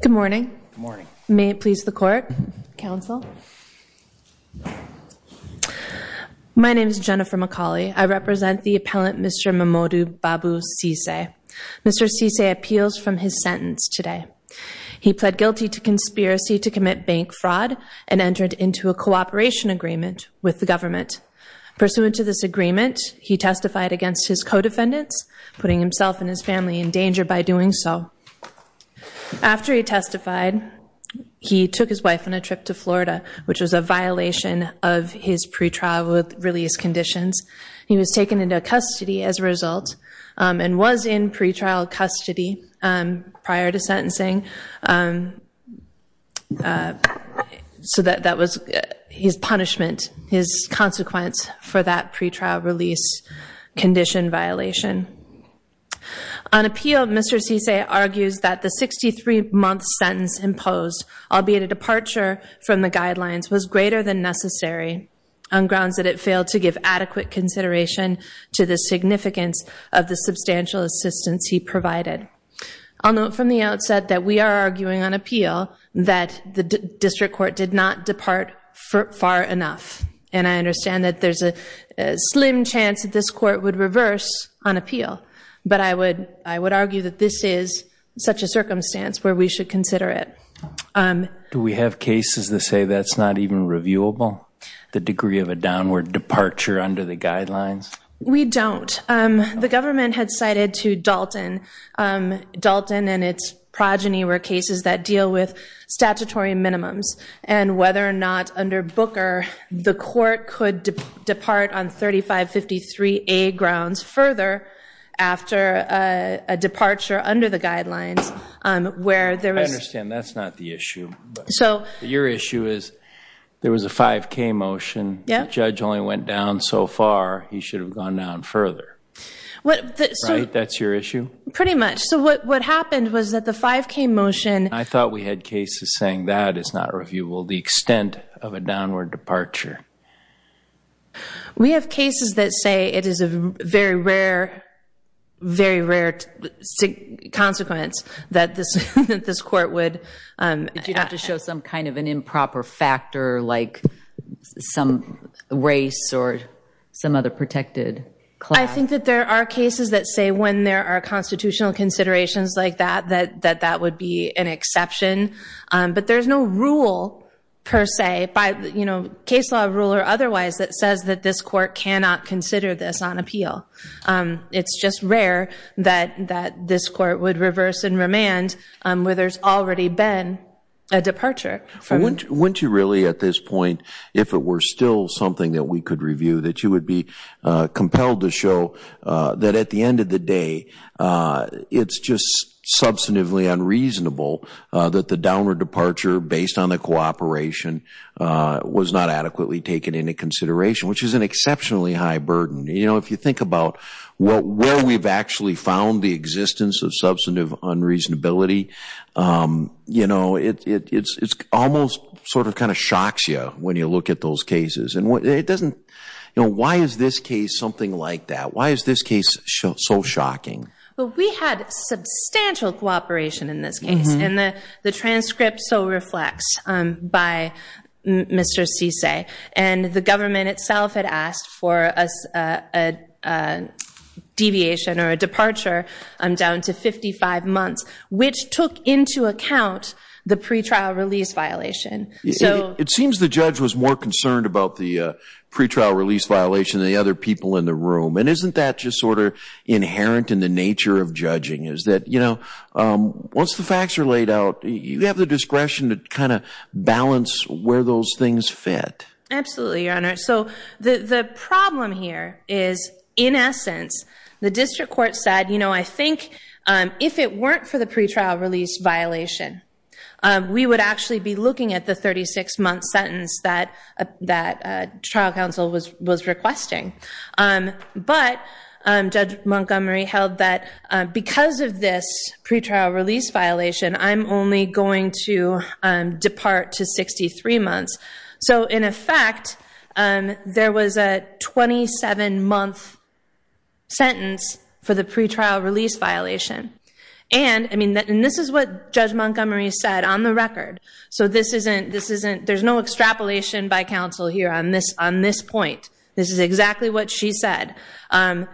Good morning. May it please the court, counsel. My name is Jennifer McCauley. I represent the appellant Mr. Momodu Babu Sesay. Mr. Sesay appeals from his sentence today. He pled guilty to conspiracy to commit bank fraud and entered into a cooperation agreement with the government. Pursuant to this agreement, he testified against his co-defendants, putting himself and his family in danger by doing so. After he testified, he took his wife on a trip to Florida, which was a violation of his pretrial release conditions. He was taken into custody as a result and was in pretrial custody prior to sentencing. So that was his punishment, his consequence for that pretrial release condition violation. On appeal, Mr. Sesay argues that the 63-month sentence imposed, albeit a departure from the guidelines, was greater than necessary on grounds that it failed to give adequate consideration to the significance of the substantial assistance he provided. I'll note from the outset that we are arguing on appeal that the district court did not depart far enough, and I understand that there's a slim chance that this court would reverse on appeal, but I would argue that this is such a circumstance where we should consider it. Do we have cases that say that's not even reviewable, the degree of a downward departure under the guidelines? We don't. The government had cited to Dalton, Dalton and its progeny were cases that deal with statutory minimums, and whether or not under Booker, the court could depart on 3553A grounds further after a departure under the guidelines, where there was... I understand that's not the issue, but your issue is there was a 5k motion, the judge only went down so far, he should have gone down further, right? That's your issue? Pretty much. So what happened was that the 5k motion... I thought we had cases saying that is not reviewable, the extent of a downward departure. We have cases that say it is a very rare, very rare consequence that this court would... If you have to show some kind of an improper factor, like some race or some other protected class... I think that there are cases that say when there are constitutional considerations like that, that that would be an exception, but there's no rule per se, case law rule or otherwise, that says that this court cannot consider this on appeal. It's just rare that this court would reverse and remand where there's already been a departure. Wouldn't you really at this point, if it were still something that we could review, that you would be compelled to show that at the end of the day, it's just substantively unreasonable that the downward departure based on the cooperation was not adequately taken into consideration, which is an exceptionally high burden. You know, if you think about where we've actually found the existence of substantive unreasonability, you know, it's almost sort of kind of shocks you when you look at those cases. And why is this case something like that? Why is this case so shocking? Well, we had substantial cooperation in this case, and the transcript so reflects by Mr. Cisse, and the government itself had asked for a deviation or a departure down to 55 months, which took into account the pre-trial release violation. So it seems the judge was more concerned about the pre-trial release violation than the other people in the room. And isn't that just sort of inherent in the nature of judging, is that, you have the discretion to kind of balance where those things fit? Absolutely, Your Honor. So the problem here is, in essence, the district court said, you know, I think if it weren't for the pre-trial release violation, we would actually be looking at the 36-month sentence that trial counsel was requesting. But Judge Montgomery held that because of this pre-trial release violation, I'm only going to depart to 63 months. So in effect, there was a 27-month sentence for the pre-trial release violation. And I mean, and this is what Judge Montgomery said on the record. So this isn't, this isn't, there's no extrapolation by counsel here on this point. This is exactly what she said. And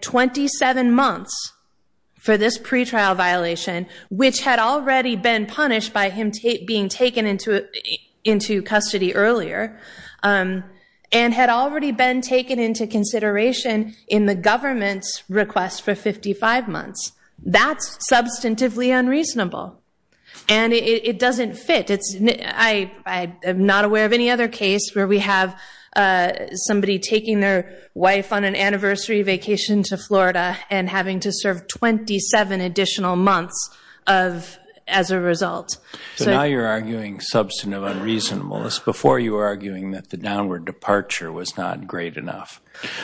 27 months for this pre-trial violation, which had already been punished by him being taken into custody earlier, and had already been taken into consideration in the government's request for 55 months. That's substantively unreasonable. And it doesn't fit, I am not aware of any other case where we have somebody taking their wife on an anniversary vacation to Florida and having to serve 27 additional months as a result. So now you're arguing substantive unreasonableness before you were arguing that the downward departure was not great enough.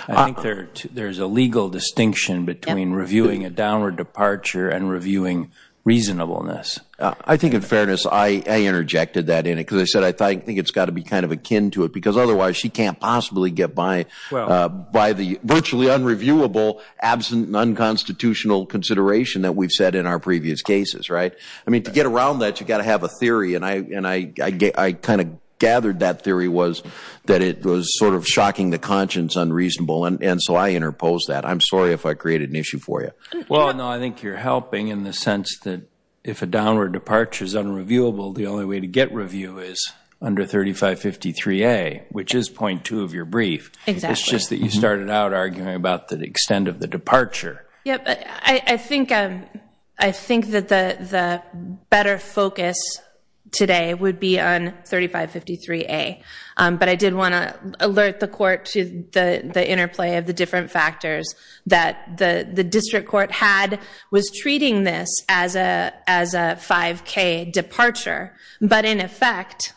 I think there's a legal distinction between reviewing a downward departure and because I said, I think it's got to be kind of akin to it because otherwise she can't possibly get by by the virtually unreviewable, absent, non-constitutional consideration that we've said in our previous cases, right? I mean, to get around that, you've got to have a theory. And I kind of gathered that theory was that it was sort of shocking the conscience unreasonable. And so I interpose that. I'm sorry if I created an issue for you. Well, no, I think you're helping in the is under 3553A, which is point two of your brief. It's just that you started out arguing about the extent of the departure. Yeah, I think that the better focus today would be on 3553A. But I did want to alert the court to the interplay of the different factors that the district court had was treating this as a 5K departure, but in effect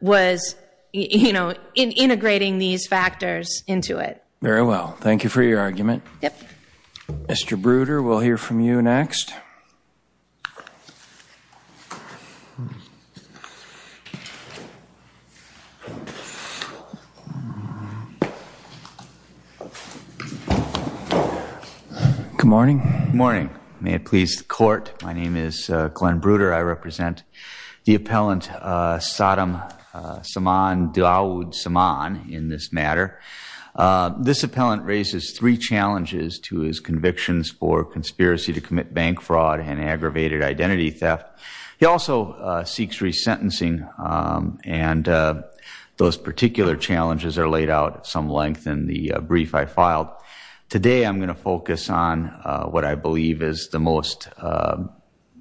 was integrating these factors into it. Very well. Thank you for your argument. Mr. Bruder, we'll hear from you next. Good morning. Good morning. May it please the court. My name is Glenn Bruder. I represent the appellant, Saddam Saman Daud Saman in this matter. This appellant raises three challenges to his convictions for conspiracy to commit bank fraud and aggravated identity theft. He also seeks resentencing. And those particular challenges are laid out at some length in the brief I filed. Today, I'm going to focus on what I believe is the most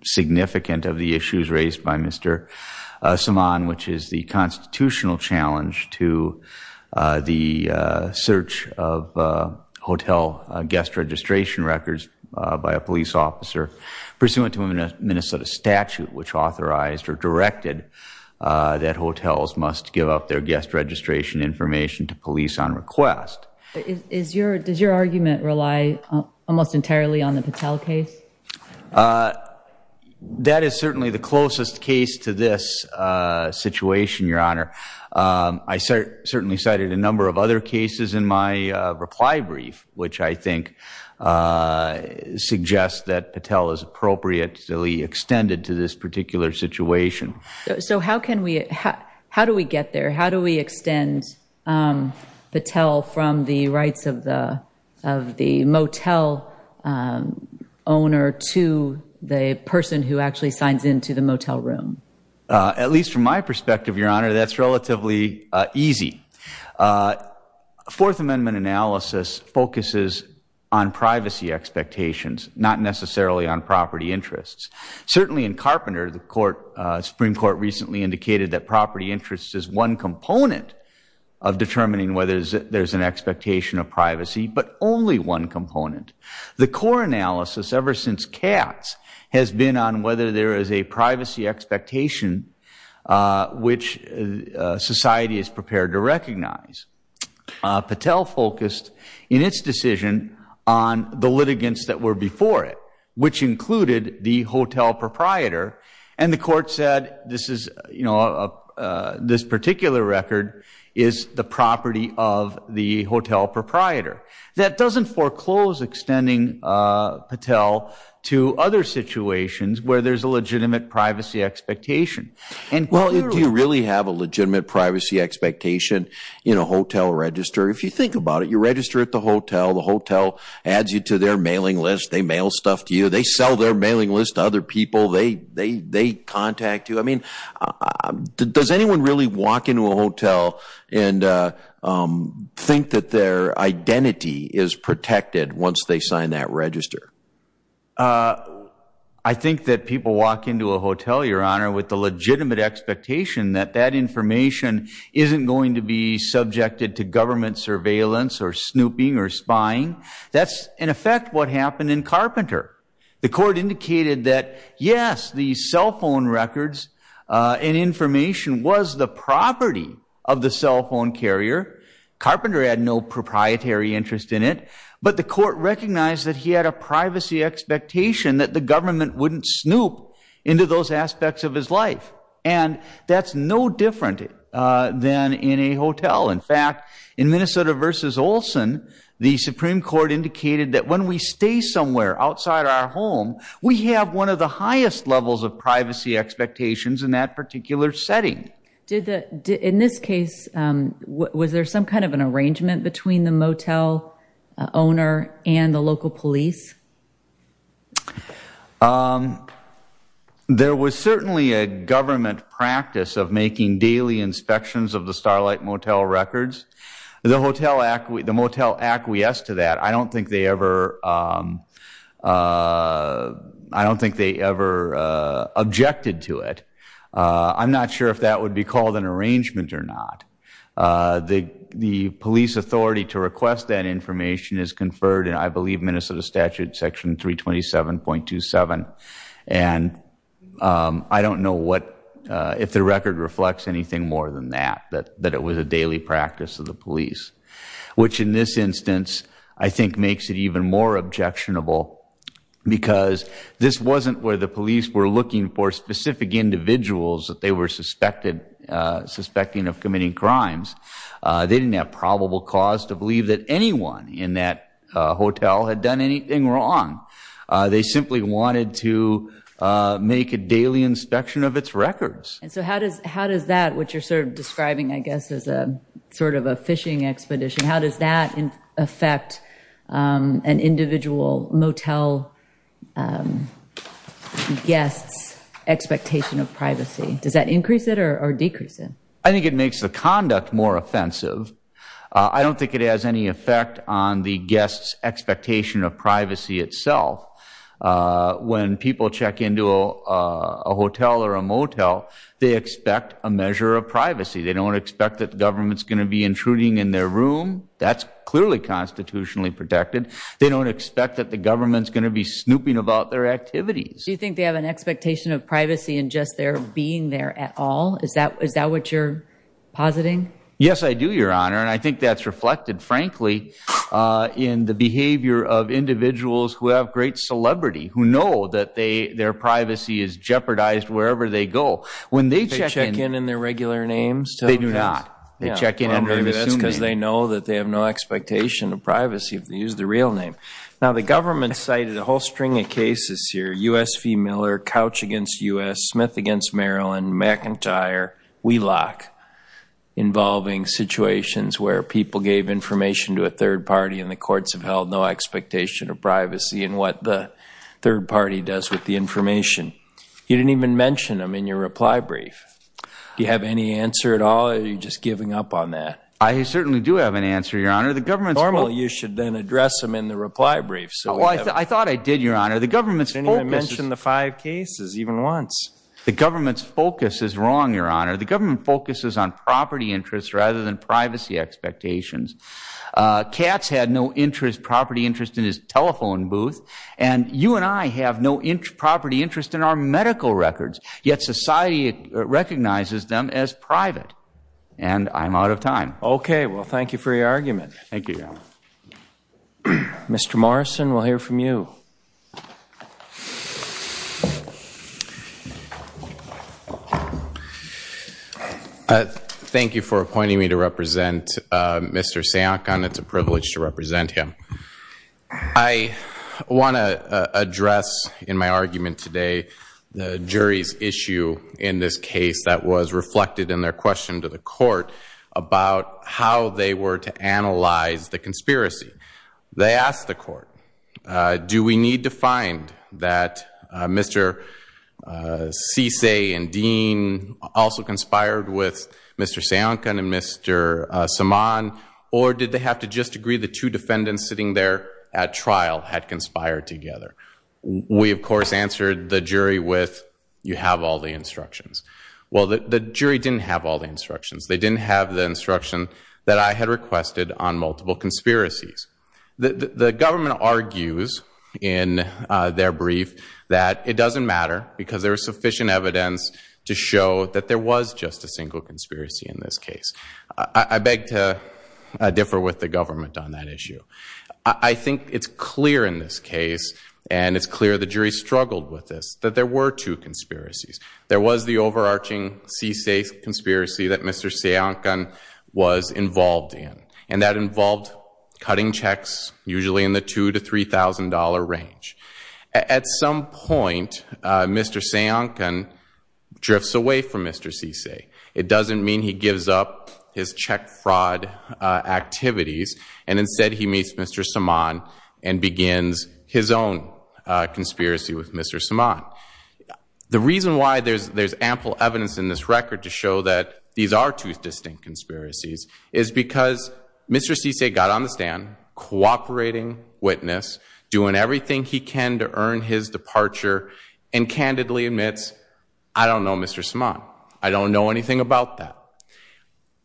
significant of the issues guest registration records by a police officer pursuant to a Minnesota statute, which authorized or directed that hotels must give up their guest registration information to police on request. Does your argument rely almost entirely on the Patel case? That is certainly the closest case to this situation, Your Honor. I certainly cited a reply brief, which I think suggests that Patel is appropriately extended to this particular situation. So how can we, how do we get there? How do we extend Patel from the rights of the motel owner to the person who actually signs into the motel room? At least from my perspective, Your Honor, that's relatively easy. Fourth Amendment analysis focuses on privacy expectations, not necessarily on property interests. Certainly in Carpenter, the court, Supreme Court recently indicated that property interest is one component of determining whether there's an expectation of privacy, but only one component. The core analysis ever since Katz has been on whether there is a privacy expectation, which society is prepared to recognize. Patel focused in its decision on the litigants that were before it, which included the hotel proprietor. And the court said, this is, you know, this particular record is the property of the hotel proprietor. That doesn't foreclose extending Patel to other situations where there's a legitimate privacy expectation. And clearly- Well, do you really have a legitimate privacy expectation in a hotel register? If you think about it, you register at the hotel, the hotel adds you to their mailing list, they mail stuff to you, they sell their mailing list to other people, they contact you. I mean, does anyone really walk into a hotel and think that their identity is protected once they sign that register? I think that people walk into a hotel, Your Honor, with the legitimate expectation that that information isn't going to be subjected to government surveillance or snooping or spying. That's in effect what happened in Carpenter. The court indicated that, yes, the cell phone records and information was the property of the cell phone carrier. Carpenter had no proprietary interest in it. But the court recognized that he had a privacy expectation that the government wouldn't snoop into those aspects of his life. And that's no different than in a hotel. In fact, in Minnesota v. Olson, the Supreme Court indicated that when we stay somewhere outside our home, we have one of the highest levels of privacy expectations in that particular setting. In this case, was there some kind of an arrangement between the motel owner and the local police? There was certainly a government practice of making daily inspections of the Starlight Motel records. The motel acquiesced to that. I don't think they ever objected to it. I'm not sure if that would be called an arrangement or not. The police authority to request that information is conferred in, I believe, Minnesota statute section 327.27. And I don't know if the record reflects anything more than that, that it was a daily practice of the police. Which in this instance, I think makes it even more objectionable because this wasn't where the police were looking for specific individuals that they were suspected of committing crimes. They didn't have probable cause to believe that anyone in that hotel had done anything wrong. They simply wanted to make a daily inspection of its records. And so how does that, what you're sort of describing, I guess, as a sort of a fishing expedition, how does that affect an individual motel guest's expectation of privacy? Does that increase it or decrease it? I think it makes the conduct more offensive. I don't think it has any effect on the guest's expectation of privacy itself. When people check into a hotel or a motel, they expect a measure of privacy. They don't expect that the government's going to be intruding in their room. That's clearly constitutionally protected. They don't expect that the government's going to be snooping about their activities. Do you think they have an expectation of privacy in just their being there at all? Is that what you're positing? Yes, I do, Your Honor. And I think that's reflected, frankly, in the behavior of individuals who have great celebrity, who know that their privacy is jeopardized wherever they go. When they check in- They check in in their regular names? They do not. They check in under an assumed name. That's because they know that they have no expectation of privacy if they use their real name. Now, the government cited a whole string of cases here, US v. Miller, Couch against US, Smith against Maryland, McIntyre, Wheelock, involving situations where people gave information to a third party and the courts have held no expectation of privacy in what the third party does with the information. You didn't even mention them in your reply brief. Do you have any answer at all, or are you just giving up on that? I certainly do have an answer, Your Honor. The government's- Well, you should then address them in the reply brief. Well, I thought I did, Your Honor. The government's focus- You didn't even The government focuses on property interests rather than privacy expectations. Katz had no property interest in his telephone booth, and you and I have no property interest in our medical records, yet society recognizes them as private, and I'm out of time. Okay. Well, thank you for your argument. Thank you, Your Honor. Mr. Morrison, we'll hear from you. I thank you for appointing me to represent Mr. Sankan. It's a privilege to represent him. I want to address in my argument today the jury's issue in this case that was reflected in their question to the court about how they were to analyze the conspiracy. They asked the court, do we need to find that Mr. Cisse and Dean also conspired with Mr. Sankan and Mr. Saman, or did they have to just agree the two defendants sitting there at trial had conspired together? We, of course, answered the jury with, you have all the instructions. Well, the jury didn't have all the instructions. They didn't have the instruction that I had requested on multiple conspiracies. The government argues in their brief that it doesn't matter because there was sufficient evidence to show that there was just a single conspiracy in this case. I beg to differ with the government on that issue. I think it's clear in this case, and it's clear the jury struggled with this, that there were two conspiracies. There was the overarching Cisse conspiracy that Mr. Sankan was involved in, and that involved cutting checks, usually in the $2,000 to $3,000 range. At some point, Mr. Sankan drifts away from Mr. Cisse. It doesn't mean he gives up his check fraud activities, and instead he meets Mr. Saman and begins his own conspiracy with Mr. Saman. The reason why there's ample evidence in this record to show that these are two distinct conspiracies is because Mr. Cisse got on the stand, cooperating witness, doing everything he can to earn his departure, and candidly admits, I don't know Mr. Saman. I don't know anything about that.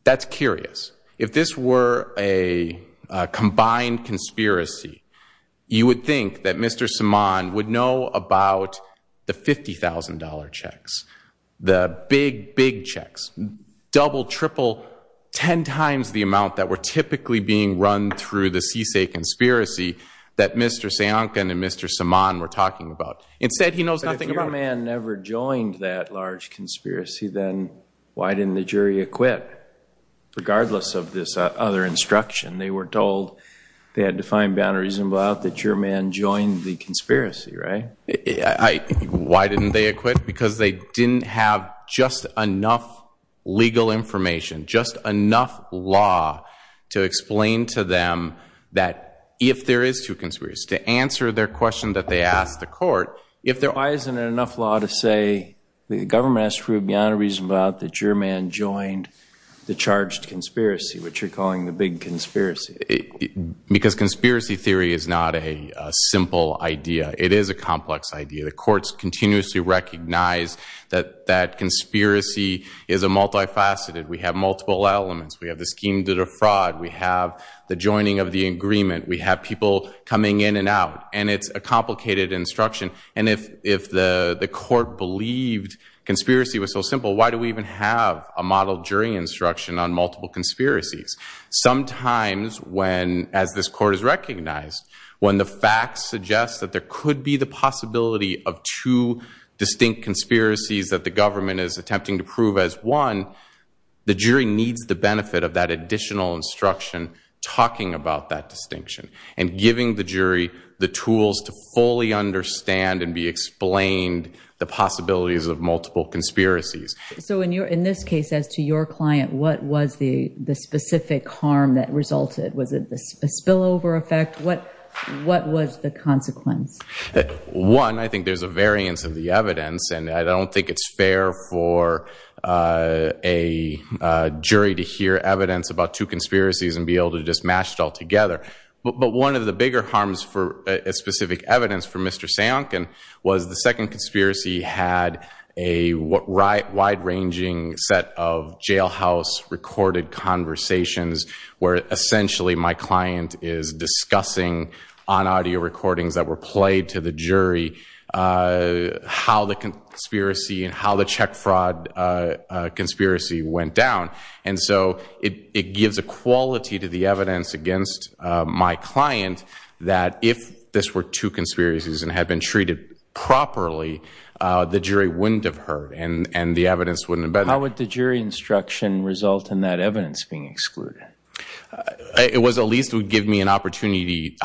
That's curious. If this were a combined conspiracy, you would think that Mr. Saman would know about the $50,000 checks, the big, big checks, double, triple, 10 times the amount that were typically being run through the Cisse conspiracy that Mr. Sankan and Mr. Saman were talking about. Instead, he knows nothing about it. But if your man never joined that large conspiracy, then why didn't the jury acquit, regardless of this other instruction? They were told they had to find beyond a reasonable doubt that your man joined the conspiracy, right? Why didn't they acquit? Because they didn't have just enough legal information, just enough law to explain to them that if there is two conspiracies, to answer their question that they asked the court, if there... Why isn't it enough law to say the government has proved beyond a reasonable doubt that your man joined the charged conspiracy, which you're calling the big conspiracy? Because conspiracy theory is not a simple idea. It is a complex idea. The courts continuously recognize that that conspiracy is a multifaceted. We have multiple elements. We have the scheme to defraud. We have the joining of the agreement. We have people coming in and out. And it's a complicated instruction. And if the court believed conspiracy was so simple, why do we even have a model jury instruction on multiple conspiracies? Sometimes when, as this court has recognized, when the facts suggest that there could be the possibility of two distinct conspiracies that the government is attempting to prove as one, the jury needs the benefit of that additional instruction talking about that distinction and giving the jury the tools to fully understand and be explained the possibilities of multiple conspiracies. So in this case, as to your client, what was the specific harm that resulted? Was it a spillover effect? What was the consequence? One, I think there's a variance of the evidence. And I don't think it's fair for a jury to hear evidence about two conspiracies and be able to just mash it all together. But one of the bigger harms for specific evidence for Mr. Sajonkin was the second conspiracy had a wide-ranging set of jailhouse recorded conversations where essentially my client is discussing on audio recordings that were played to the jury how the conspiracy and how the check fraud conspiracy went down. And so it gives a quality to the evidence against my client that if this were two conspiracies and had been treated properly, the jury wouldn't have heard and the evidence wouldn't have been... How would the jury instruction result in that evidence being excluded? It was at least would give me an opportunity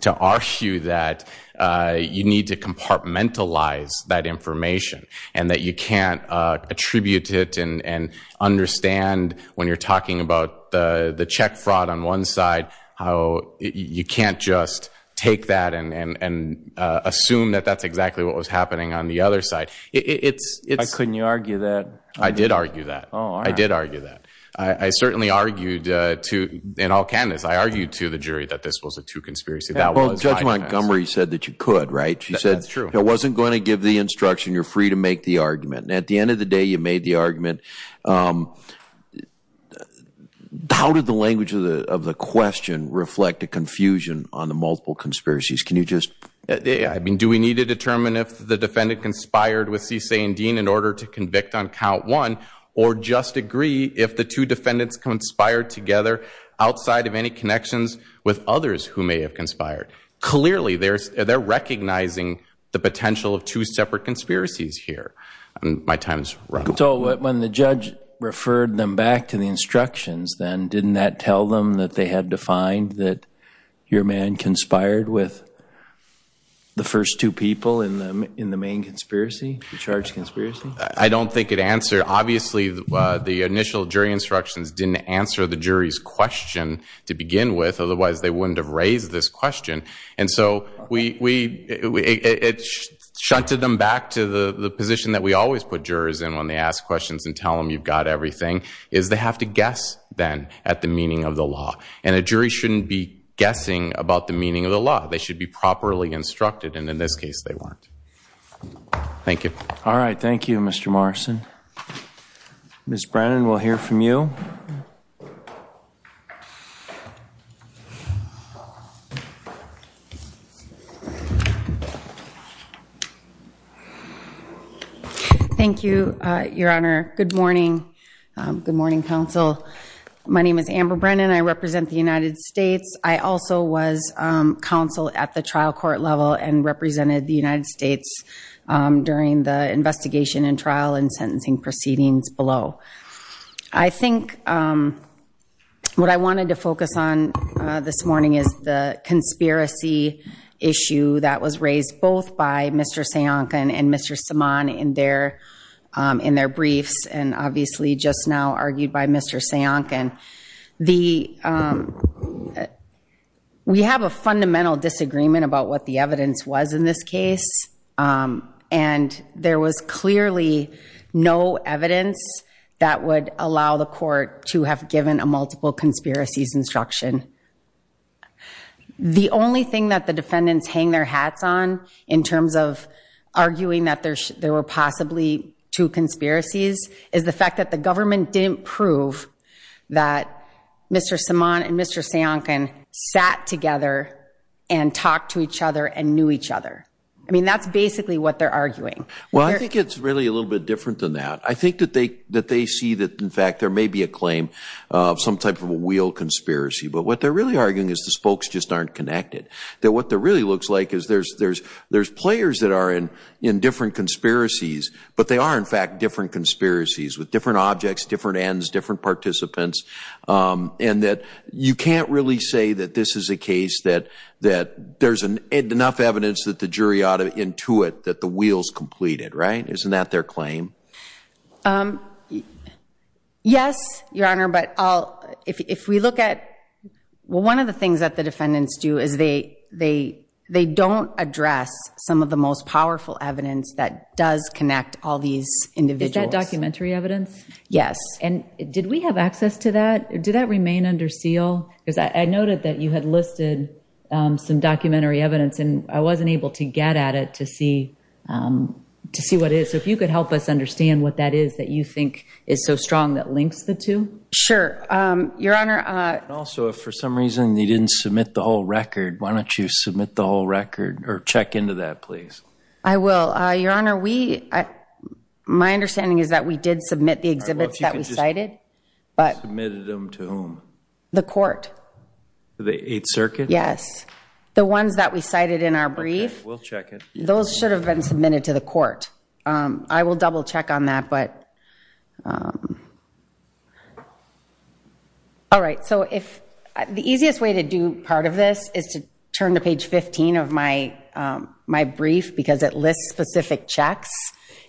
to argue that you need to compartmentalize that information and that you can't attribute it and understand when you're talking about the check fraud on one side, how you can't just take that and assume that that's exactly what was happening on the other side. I couldn't argue that. I did argue that. I did argue that. I certainly argued to, in all candidness, I argued to the jury that this was a two conspiracy. Judge Montgomery said that you could, right? She said it wasn't going to give the instruction. You're free to make the argument. And at the end of the day, you made the argument. How did the language of the question reflect a confusion on the multiple conspiracies? Can you just... Do we need to determine if the defendant conspired with CSA and Dean in order to convict on count one or just agree if the two defendants conspired together outside of any connections with others who may have conspired? Clearly, they're recognizing the potential of two separate conspiracies here. My time's up. So when the judge referred them back to the instructions, then didn't that tell them that they had defined that your man conspired with the first two people in the main conspiracy, the charge conspiracy? I don't think it answered. Obviously, the initial jury instructions didn't answer the jury's question to begin with. Otherwise, they wouldn't have raised this question. And so it shunted them back to the position that we always put jurors in when they ask questions and tell them you've got everything is they have to guess then at the meaning of the law. And a jury shouldn't be guessing about the meaning of the law. They should be properly instructed. And in this case, they weren't. Thank you. All right. Thank you, Mr. Morrison. Ms. Brennan, we'll hear from you. Thank you, Your Honor. Good morning. Good morning, counsel. My name is Amber Brennan. I represent the United States. I also was counsel at the trial court level and represented the United States during the investigation and trial and sentencing proceedings below. I think what I wanted to focus on this morning is the conspiracy issue that was raised both by Mr. Sajonkan and Mr. Saman in their briefs and obviously just now argued by Mr. Sajonkan. We have a fundamental disagreement about what the evidence was in this case. And there was clearly no evidence that would allow the court to have given a multiple conspiracies instruction. The only thing that the defendants hang their hats on in terms of arguing that there were possibly two conspiracies is the fact that the government didn't prove that Mr. Saman and Mr. Sajonkan sat together and talked to each other and knew each other. I mean, that's basically what they're arguing. Well, I think it's really a little bit different than that. I think that they see that, in fact, there may be a claim of some type of a real conspiracy. But what they're really arguing is the spokes just aren't connected, that what there really looks like is there's players that are in different conspiracies, but they are, in fact, different conspiracies with different objects, different ends, different participants, and that you can't really say that this is a case that there's enough evidence that the jury ought to intuit that the wheel's completed, right? Isn't that their claim? Yes, Your Honor, but if we look at, well, one of the things that the defendants do is they don't address some of the most powerful evidence that does connect all these individuals. Is that documentary evidence? Yes. And did we have access to that? Did that remain under seal? Because I noted that you had listed some documentary evidence, and I wasn't able to get at it to see what it is. So, if you could help us understand what that is that you think is so strong that links the two. Sure, Your Honor. Also, if for some reason they didn't submit the whole record, why don't you submit the whole record or check into that, please? I will, Your Honor. My understanding is that we did submit the exhibits that we cited, but... Submitted them to whom? The court. The Eighth Circuit? Yes, the ones that we cited in our brief. We'll check it. Those should have been submitted to the court. I will double check on that, but... All right. So, the easiest way to do part of this is to turn to page 15 of my brief, because it lists specific checks,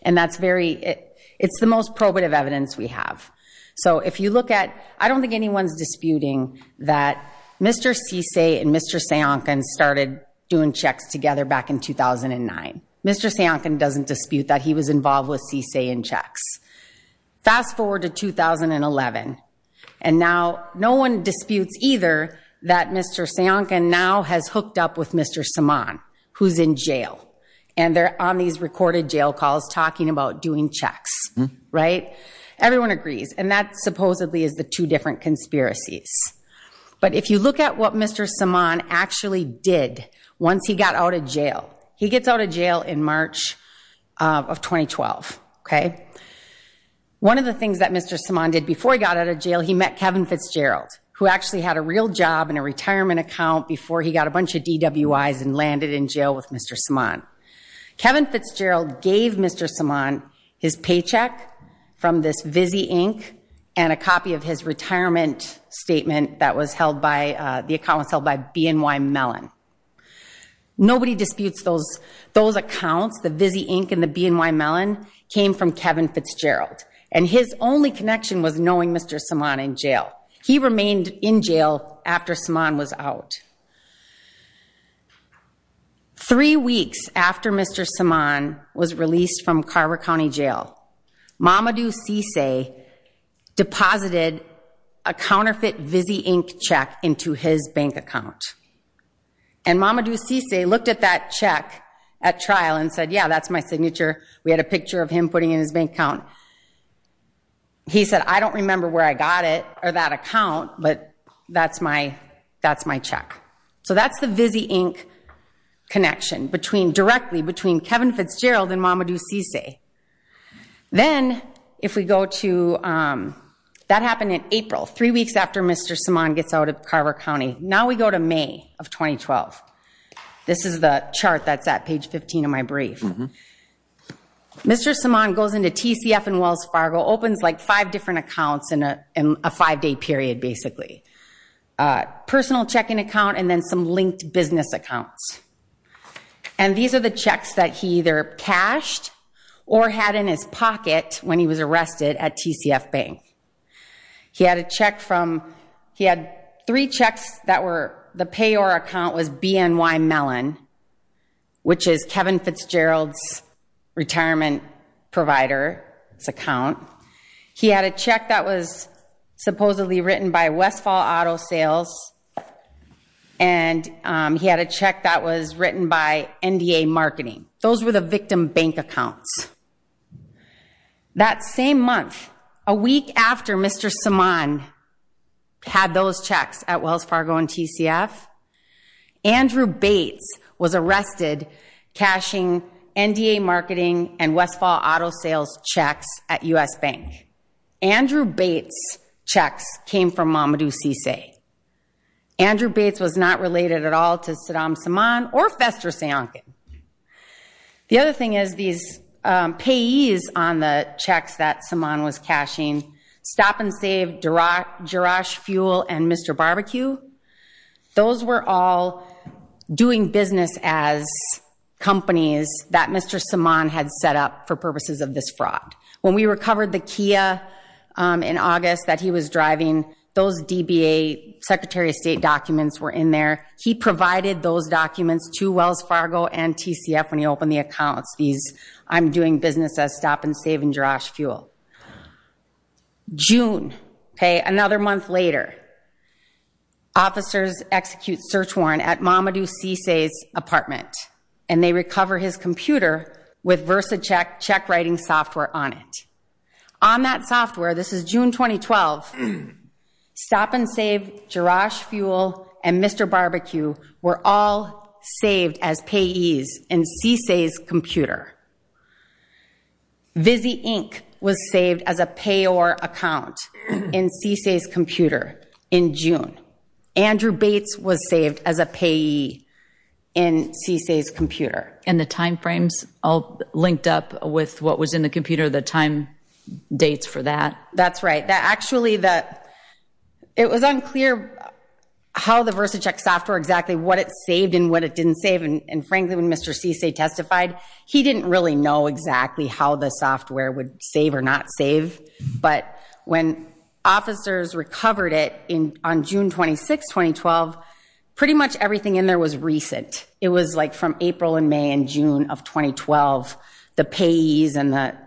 and that's very... It's the most probative evidence we have. So, if you look at... I don't think anyone's disputing that Mr. Cisse and Mr. Sajonkan started doing checks together back in 2009. Mr. Sajonkan doesn't dispute that he was involved with Cisse in checks. Fast forward to 2011, and now no one disputes either that Mr. Sajonkan now has hooked up with Mr. Saman, who's in jail, and they're on these recorded jail calls talking about doing checks, right? Everyone agrees, and that supposedly is the two different conspiracies. But if you look at what Mr. Saman actually did once he got out of jail... He gets out of jail in March of 2012, okay? One of the things that Mr. Saman did before he got out of jail, he met Kevin Fitzgerald, who actually had a real job and a retirement account before he got a bunch of DWIs and landed in jail with Mr. Saman. Kevin Fitzgerald gave Mr. Saman his paycheck from this Visy Inc. and a copy of his retirement statement that was held by... The account was held by BNY Mellon. Nobody disputes those accounts. The Visy Inc. and the BNY Mellon came from Kevin Fitzgerald, and his only connection was knowing Mr. Saman in jail. He remained in jail after Saman was out. Three weeks after Mr. Saman was released from Carver County Jail, Mamadou Cissé deposited a counterfeit Visy Inc. check into his bank account. And Mamadou Cissé looked at that check at trial and said, yeah, that's my signature. We had a picture of him putting in his bank account. He said, I don't remember where I got it or that account, but that's my check. So that's the Visy Inc. connection directly between Kevin Fitzgerald and Mamadou Cissé. Then if we go to... That happened in April, three weeks after Mr. Saman gets out of Carver County. Now we go to May of 2012. This is the chart that's at page 15 of my brief. Mr. Saman goes into TCF and Wells Fargo, opens like five different accounts in a five-day period, basically. Personal checking account and then some linked business accounts. And these are the checks that he either cashed or had in his pocket when he was arrested at TCF Bank. He had a check from... He had three checks that were... BNY Mellon, which is Kevin Fitzgerald's retirement provider's account. He had a check that was supposedly written by Westfall Auto Sales. And he had a check that was written by NDA Marketing. Those were the victim bank accounts. That same month, a week after Mr. Saman had those checks at Wells Fargo and TCF, Andrew Bates was arrested cashing NDA Marketing and Westfall Auto Sales checks at U.S. Bank. Andrew Bates' checks came from Mamadou Cissé. Andrew Bates was not related at all to Saddam Saman or Fester Sionkin. The other thing is these payees on the checks that Those were all doing business as companies that Mr. Saman had set up for purposes of this fraud. When we recovered the Kia in August that he was driving, those DBA Secretary of State documents were in there. He provided those documents to Wells Fargo and TCF when he opened the accounts. I'm doing business as Stop and Save and Garage Fuel. June, another month later, officers execute search warrant at Mamadou Cissé's apartment, and they recover his computer with VersaCheck check writing software on it. On that software, this is June 2012, Stop and Save, Garage Fuel, and Mr. Barbecue were all saved as payees in Cissé's computer. Vizzy Inc. was saved as a payor account in Cissé's computer in June. Andrew Bates was saved as a payee in Cissé's computer. And the timeframes all linked up with what was in the computer, the time dates for that? That's right. Actually, it was unclear how the VersaCheck software, exactly what it saved and frankly, when Mr. Cissé testified, he didn't really know exactly how the software would save or not save. But when officers recovered it on June 26, 2012, pretty much everything in there was recent. It was like from April and May and June of 2012, the payees and the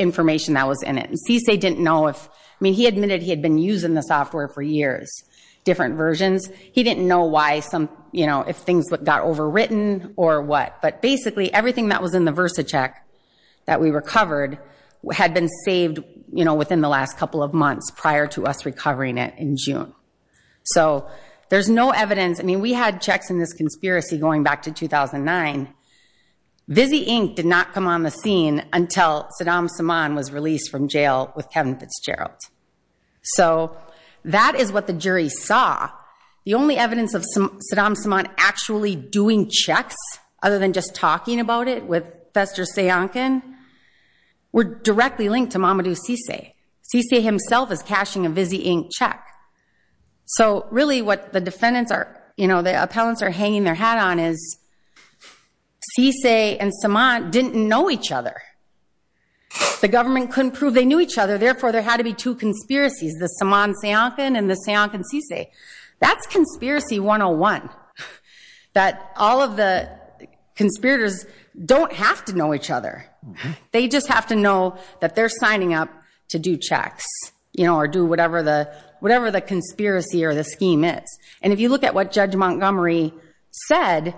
information that was in it. And Cissé didn't know if, I mean, he admitted he had been using the software for years, different versions. He didn't know if things got overwritten or what. But basically, everything that was in the VersaCheck that we recovered had been saved within the last couple of months prior to us recovering it in June. So there's no evidence. I mean, we had checks in this conspiracy going back to 2009. Vizzy Inc. did not come on the scene until Saddam Saman was re-saw. The only evidence of Saddam Saman actually doing checks, other than just talking about it with Fester Sayankin, were directly linked to Mamadou Cissé. Cissé himself is cashing a Vizzy Inc. check. So really what the defendants are, you know, the appellants are hanging their hat on is Cissé and Saman didn't know each other. The government couldn't prove they knew each other. Therefore, there had to be two conspiracies, the Saman Sayankin and the Cissé. That's conspiracy 101, that all of the conspirators don't have to know each other. They just have to know that they're signing up to do checks, you know, or do whatever the conspiracy or the scheme is. And if you look at what Judge Montgomery said,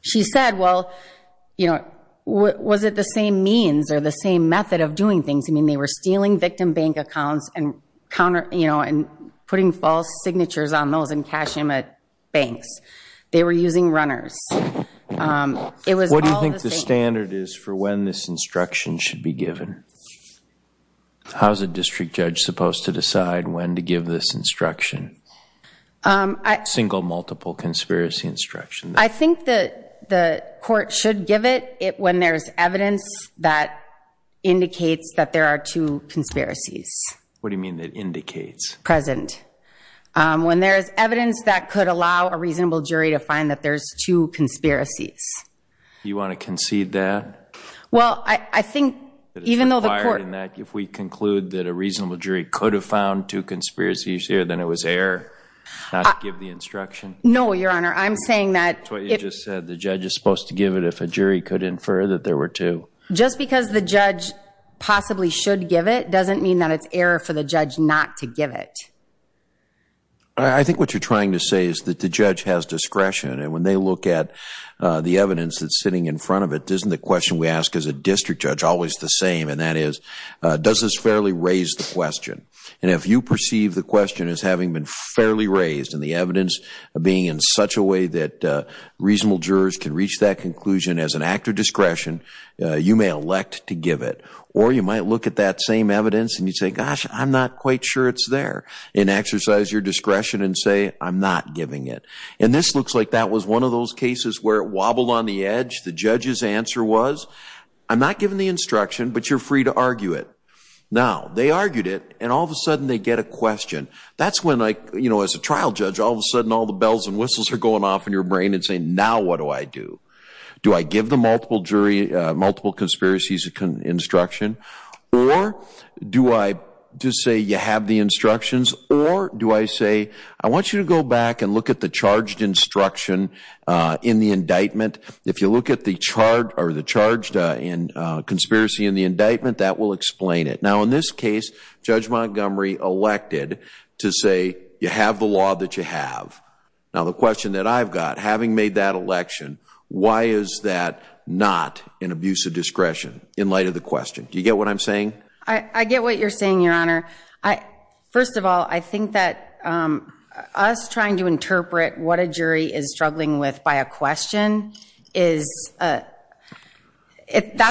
she said, well, you know, was it the same means or the same method of doing things? I mean, they were stealing victim bank accounts and counter, you know, and putting false signatures on those and cashing them at banks. They were using runners. It was all the same. What do you think the standard is for when this instruction should be given? How's a district judge supposed to decide when to give this instruction? Single, multiple conspiracy instruction. I think that the court should give it when there's evidence that indicates that there are two conspiracies. What do you mean that indicates? Present. When there's evidence that could allow a reasonable jury to find that there's two conspiracies. You want to concede that? Well, I think even though the court... If we conclude that a reasonable jury could have found two conspiracies here, then it was error not to give the instruction? No, Your Honor. I'm saying that... That's what you just said. The judge is supposed to give it if a jury could infer that there were two. Just because the judge possibly should give it doesn't mean that it's error for the judge not to give it. I think what you're trying to say is that the judge has discretion. And when they look at the evidence that's sitting in front of it, isn't the question we ask as a district judge always the same? And that is, does this fairly raise the question? And if you perceive the question as having been fairly raised and the evidence being in such a way that reasonable jurors can reach that conclusion as an act of discretion, you may elect to give it. Or you might look at that same evidence and you say, gosh, I'm not quite sure it's there. And exercise your discretion and say, I'm not giving it. And this looks like that was one of those cases where it wobbled on the edge. The judge's answer was, I'm not giving the instruction, but you're free to argue it. Now, they argued it, and all of a sudden they get a question. That's when, as a trial judge, all of a sudden all the bells and whistles are going off in your brain and saying, now what do I do? Do I give the multiple conspiracies instruction? Or do I just say, you have the instructions? Or do I say, I want you to go back and look at the charged instruction in the indictment. If you look at the charged conspiracy in the indictment, that will explain it. Now, in this case, Judge Montgomery elected to say, you have the law that you have. Now, the question that I've having made that election, why is that not an abuse of discretion in light of the question? Do you get what I'm saying? I get what you're saying, Your Honor. First of all, I think that us trying to interpret what a jury is struggling with by a question, that's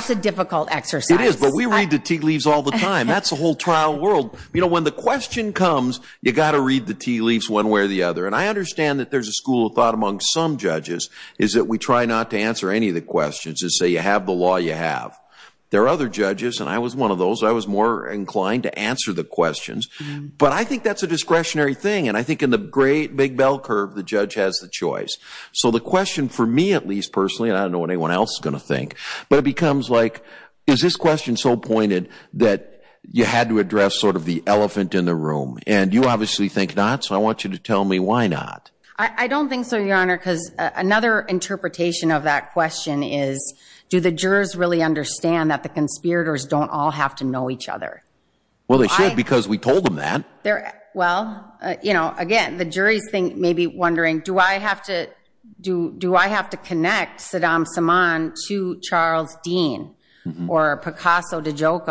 a difficult exercise. It is, but we read the tea leaves all the time. That's the whole trial world. When the question comes, you've got to read the tea leaves one way or the other. And I understand that there's a school of thought among some judges is that we try not to answer any of the questions that say, you have the law you have. There are other judges, and I was one of those. I was more inclined to answer the questions. But I think that's a discretionary thing. And I think in the great big bell curve, the judge has the choice. So the question for me, at least personally, and I don't know what anyone else is going to think, but it becomes like, is this question so pointed that you had to address sort of the elephant in the room? And you obviously think not. So I want you to tell me why not. I don't think so, Your Honor, because another interpretation of that question is, do the jurors really understand that the conspirators don't all have to know each other? Well, they should, because we told them that. Well, again, the jury's maybe wondering, do I have to connect Saddam Samman to Charles Dean or Picasso de to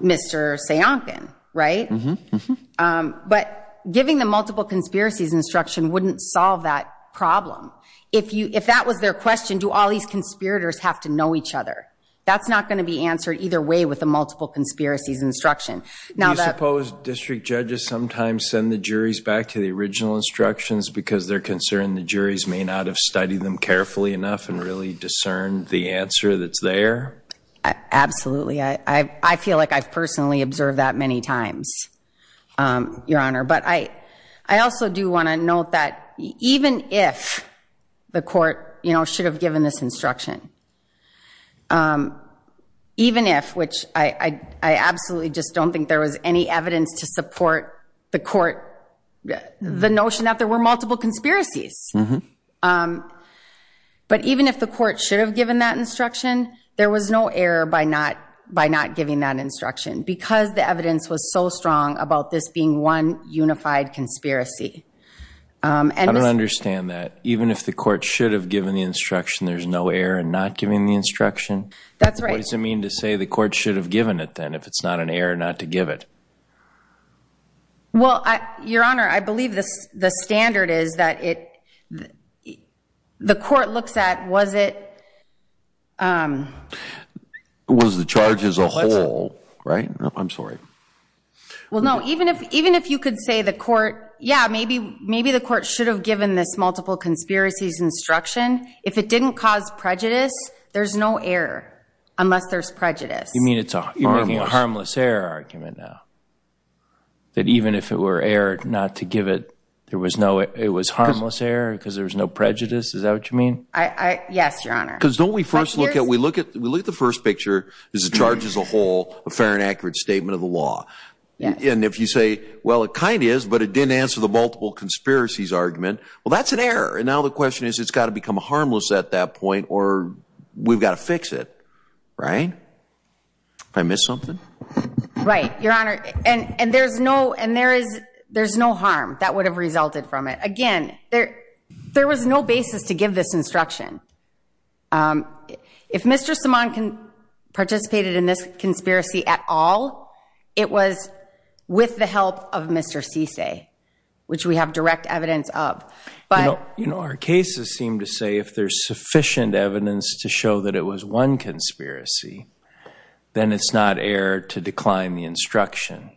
Mr. Sionkin, right? But giving the multiple conspiracies instruction wouldn't solve that problem. If that was their question, do all these conspirators have to know each other? That's not going to be answered either way with the multiple conspiracies instruction. Do you suppose district judges sometimes send the juries back to the original instructions because they're concerned the juries may not have studied them carefully enough and really the answer that's there? Absolutely. I feel like I've personally observed that many times, Your Honor. But I also do want to note that even if the court should have given this instruction, even if, which I absolutely just don't think there was any evidence to support the court, the notion that there were multiple conspiracies. But even if the court should have given that instruction, there was no error by not giving that instruction because the evidence was so strong about this being one unified conspiracy. I don't understand that. Even if the court should have given the instruction, there's no error in not giving the instruction? That's right. What does it mean to say the court should have given it then if it's not an error not to give it? Well, Your Honor, I believe the standard is that the court looks at was it... Was the charge as a whole, right? I'm sorry. Well, no. Even if you could say the court, yeah, maybe the court should have given this multiple conspiracies instruction. If it didn't cause prejudice, there's no error unless there's a harmless error argument now. That even if it were error not to give it, there was no, it was harmless error because there was no prejudice. Is that what you mean? Yes, Your Honor. Because don't we first look at, we look at, we look at the first picture is the charge as a whole, a fair and accurate statement of the law. And if you say, well, it kind is, but it didn't answer the multiple conspiracies argument. Well, that's an error. And now the question is, it's got to become harmless at that point or we've got to fix it, right? Did I miss something? Right, Your Honor. And, and there's no, and there is, there's no harm that would have resulted from it. Again, there, there was no basis to give this instruction. If Mr. Simon participated in this conspiracy at all, it was with the help of Mr. Cisse, which we have direct evidence of, but... You know, our cases seem to say if there's a single multiple conspiracy, then it's not error to decline the instruction.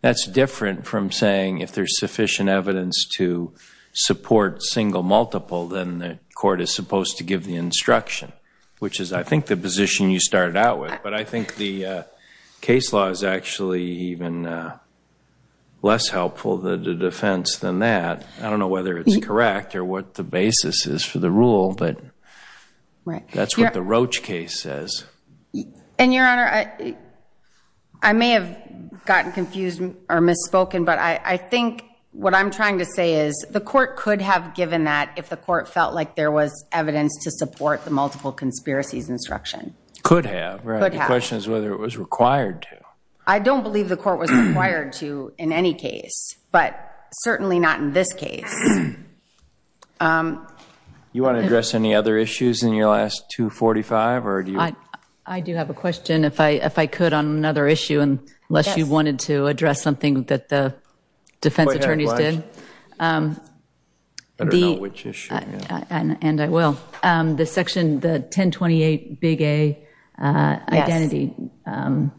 That's different from saying if there's sufficient evidence to support single multiple, then the court is supposed to give the instruction, which is I think the position you started out with. But I think the case law is actually even less helpful, the defense than that. I don't know whether it's for the rule, but that's what the Roach case says. And Your Honor, I may have gotten confused or misspoken, but I think what I'm trying to say is the court could have given that if the court felt like there was evidence to support the multiple conspiracies instruction. Could have, right? The question is whether it was required to. I don't believe the court was required to in any case, but certainly not in this case. You want to address any other issues in your last 245? I do have a question, if I could, on another issue, unless you wanted to address something that the defense attorneys did. And I will. The section, the 1028 Big A Identity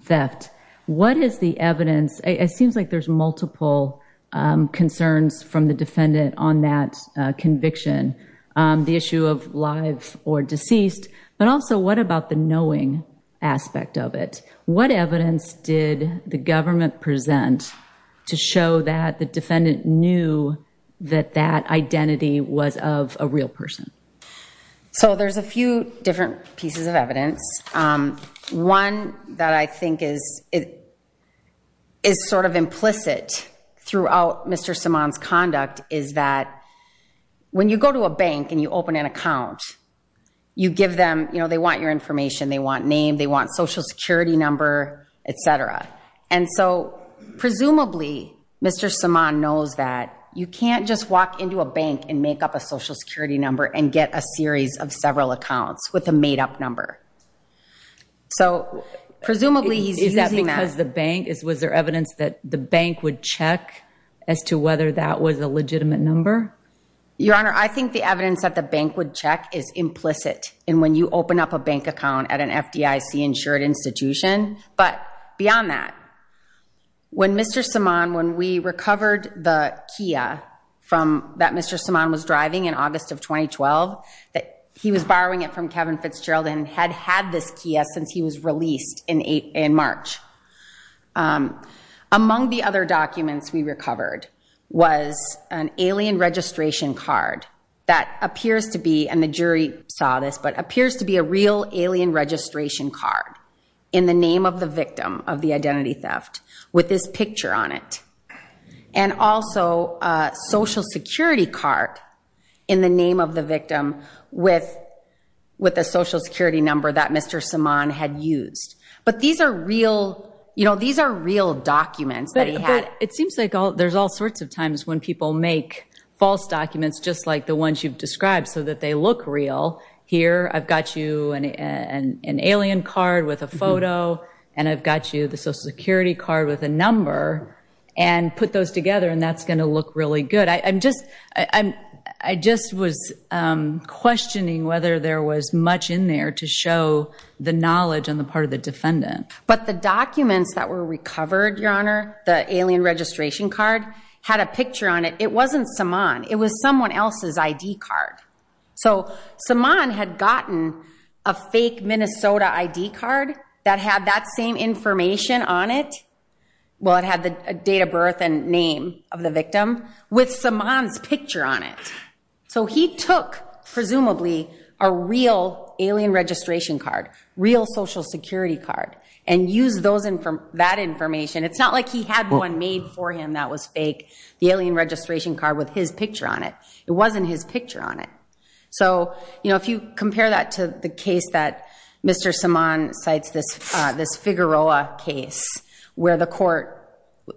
Theft. What is the evidence? It seems like there's multiple concerns from the defendant on that conviction. The issue of live or deceased, but also what about the knowing aspect of it? What evidence did the government present to show that the defendant knew that that identity was of a that I think is sort of implicit throughout Mr. Simon's conduct, is that when you go to a bank and you open an account, you give them, you know, they want your information, they want name, they want social security number, etc. And so presumably Mr. Simon knows that you can't just walk into a bank and make up a social security number and get a series of several accounts with a made up number. So presumably he's using that. Is that because the bank, was there evidence that the bank would check as to whether that was a legitimate number? Your Honor, I think the evidence that the bank would check is implicit in when you open up a bank account at an FDIC insured institution. But beyond that, when Mr. Simon, when we recovered the Kia from that Mr. Simon was driving in August of since he was released in March. Among the other documents we recovered was an alien registration card that appears to be, and the jury saw this, but appears to be a real alien registration card in the name of the victim of the identity theft with this picture on it. And also a social security card in the name of the victim with a social security number that Mr. Simon had used. But these are real, you know, these are real documents that he had. But it seems like there's all sorts of times when people make false documents just like the ones you've described so that they look real. Here I've got you an alien card with a photo and I've got you the social security card with a number and put those together and that's going to look really good. I'm just, I just was questioning whether there was much in there to show the knowledge on the part of the defendant. But the documents that were recovered, Your Honor, the alien registration card had a picture on it. It wasn't Simon. It was someone else's ID card. So Simon had gotten a fake Minnesota ID card that had that same information on it. Well, it had the date of birth and name of the victim with Simon's picture on it. So he took, presumably, a real alien registration card, real social security card, and used that information. It's not like he had one made for him that was fake, the alien registration card with his picture on it. It wasn't his this Figueroa case where the court,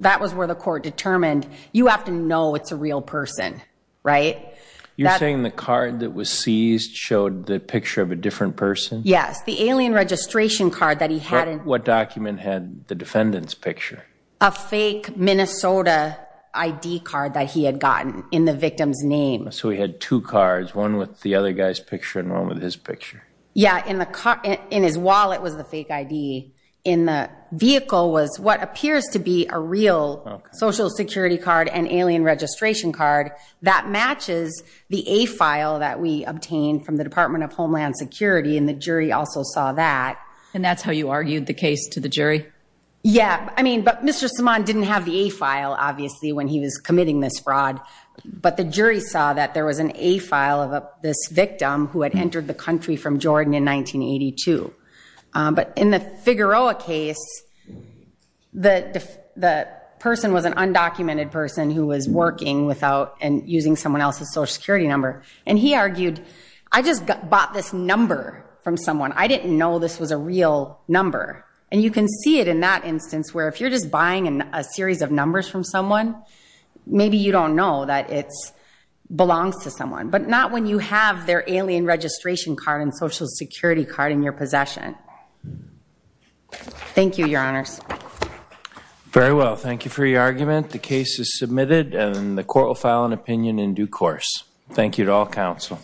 that was where the court determined, you have to know it's a real person, right? You're saying the card that was seized showed the picture of a different person? Yes, the alien registration card that he had. What document had the defendant's picture? A fake Minnesota ID card that he had gotten in the victim's name. So he had two cards, one with the other guy's picture and one with his picture? Yeah, in his wallet was the fake ID. In the vehicle was what appears to be a real social security card and alien registration card that matches the A-file that we obtained from the Department of Homeland Security, and the jury also saw that. And that's how you argued the case to the jury? Yeah. But Mr. Simon didn't have the A-file, obviously, when he was committing this in 1982. But in the Figueroa case, the person was an undocumented person who was working without and using someone else's social security number. And he argued, I just bought this number from someone. I didn't know this was a real number. And you can see it in that instance where if you're just buying a series of numbers from someone, maybe you don't know that it belongs to someone. But not when you have their alien registration card and social security card in your possession. Thank you, Your Honors. Very well. Thank you for your argument. The case is submitted and the court will file an opinion in due course. Thank you to all counsel.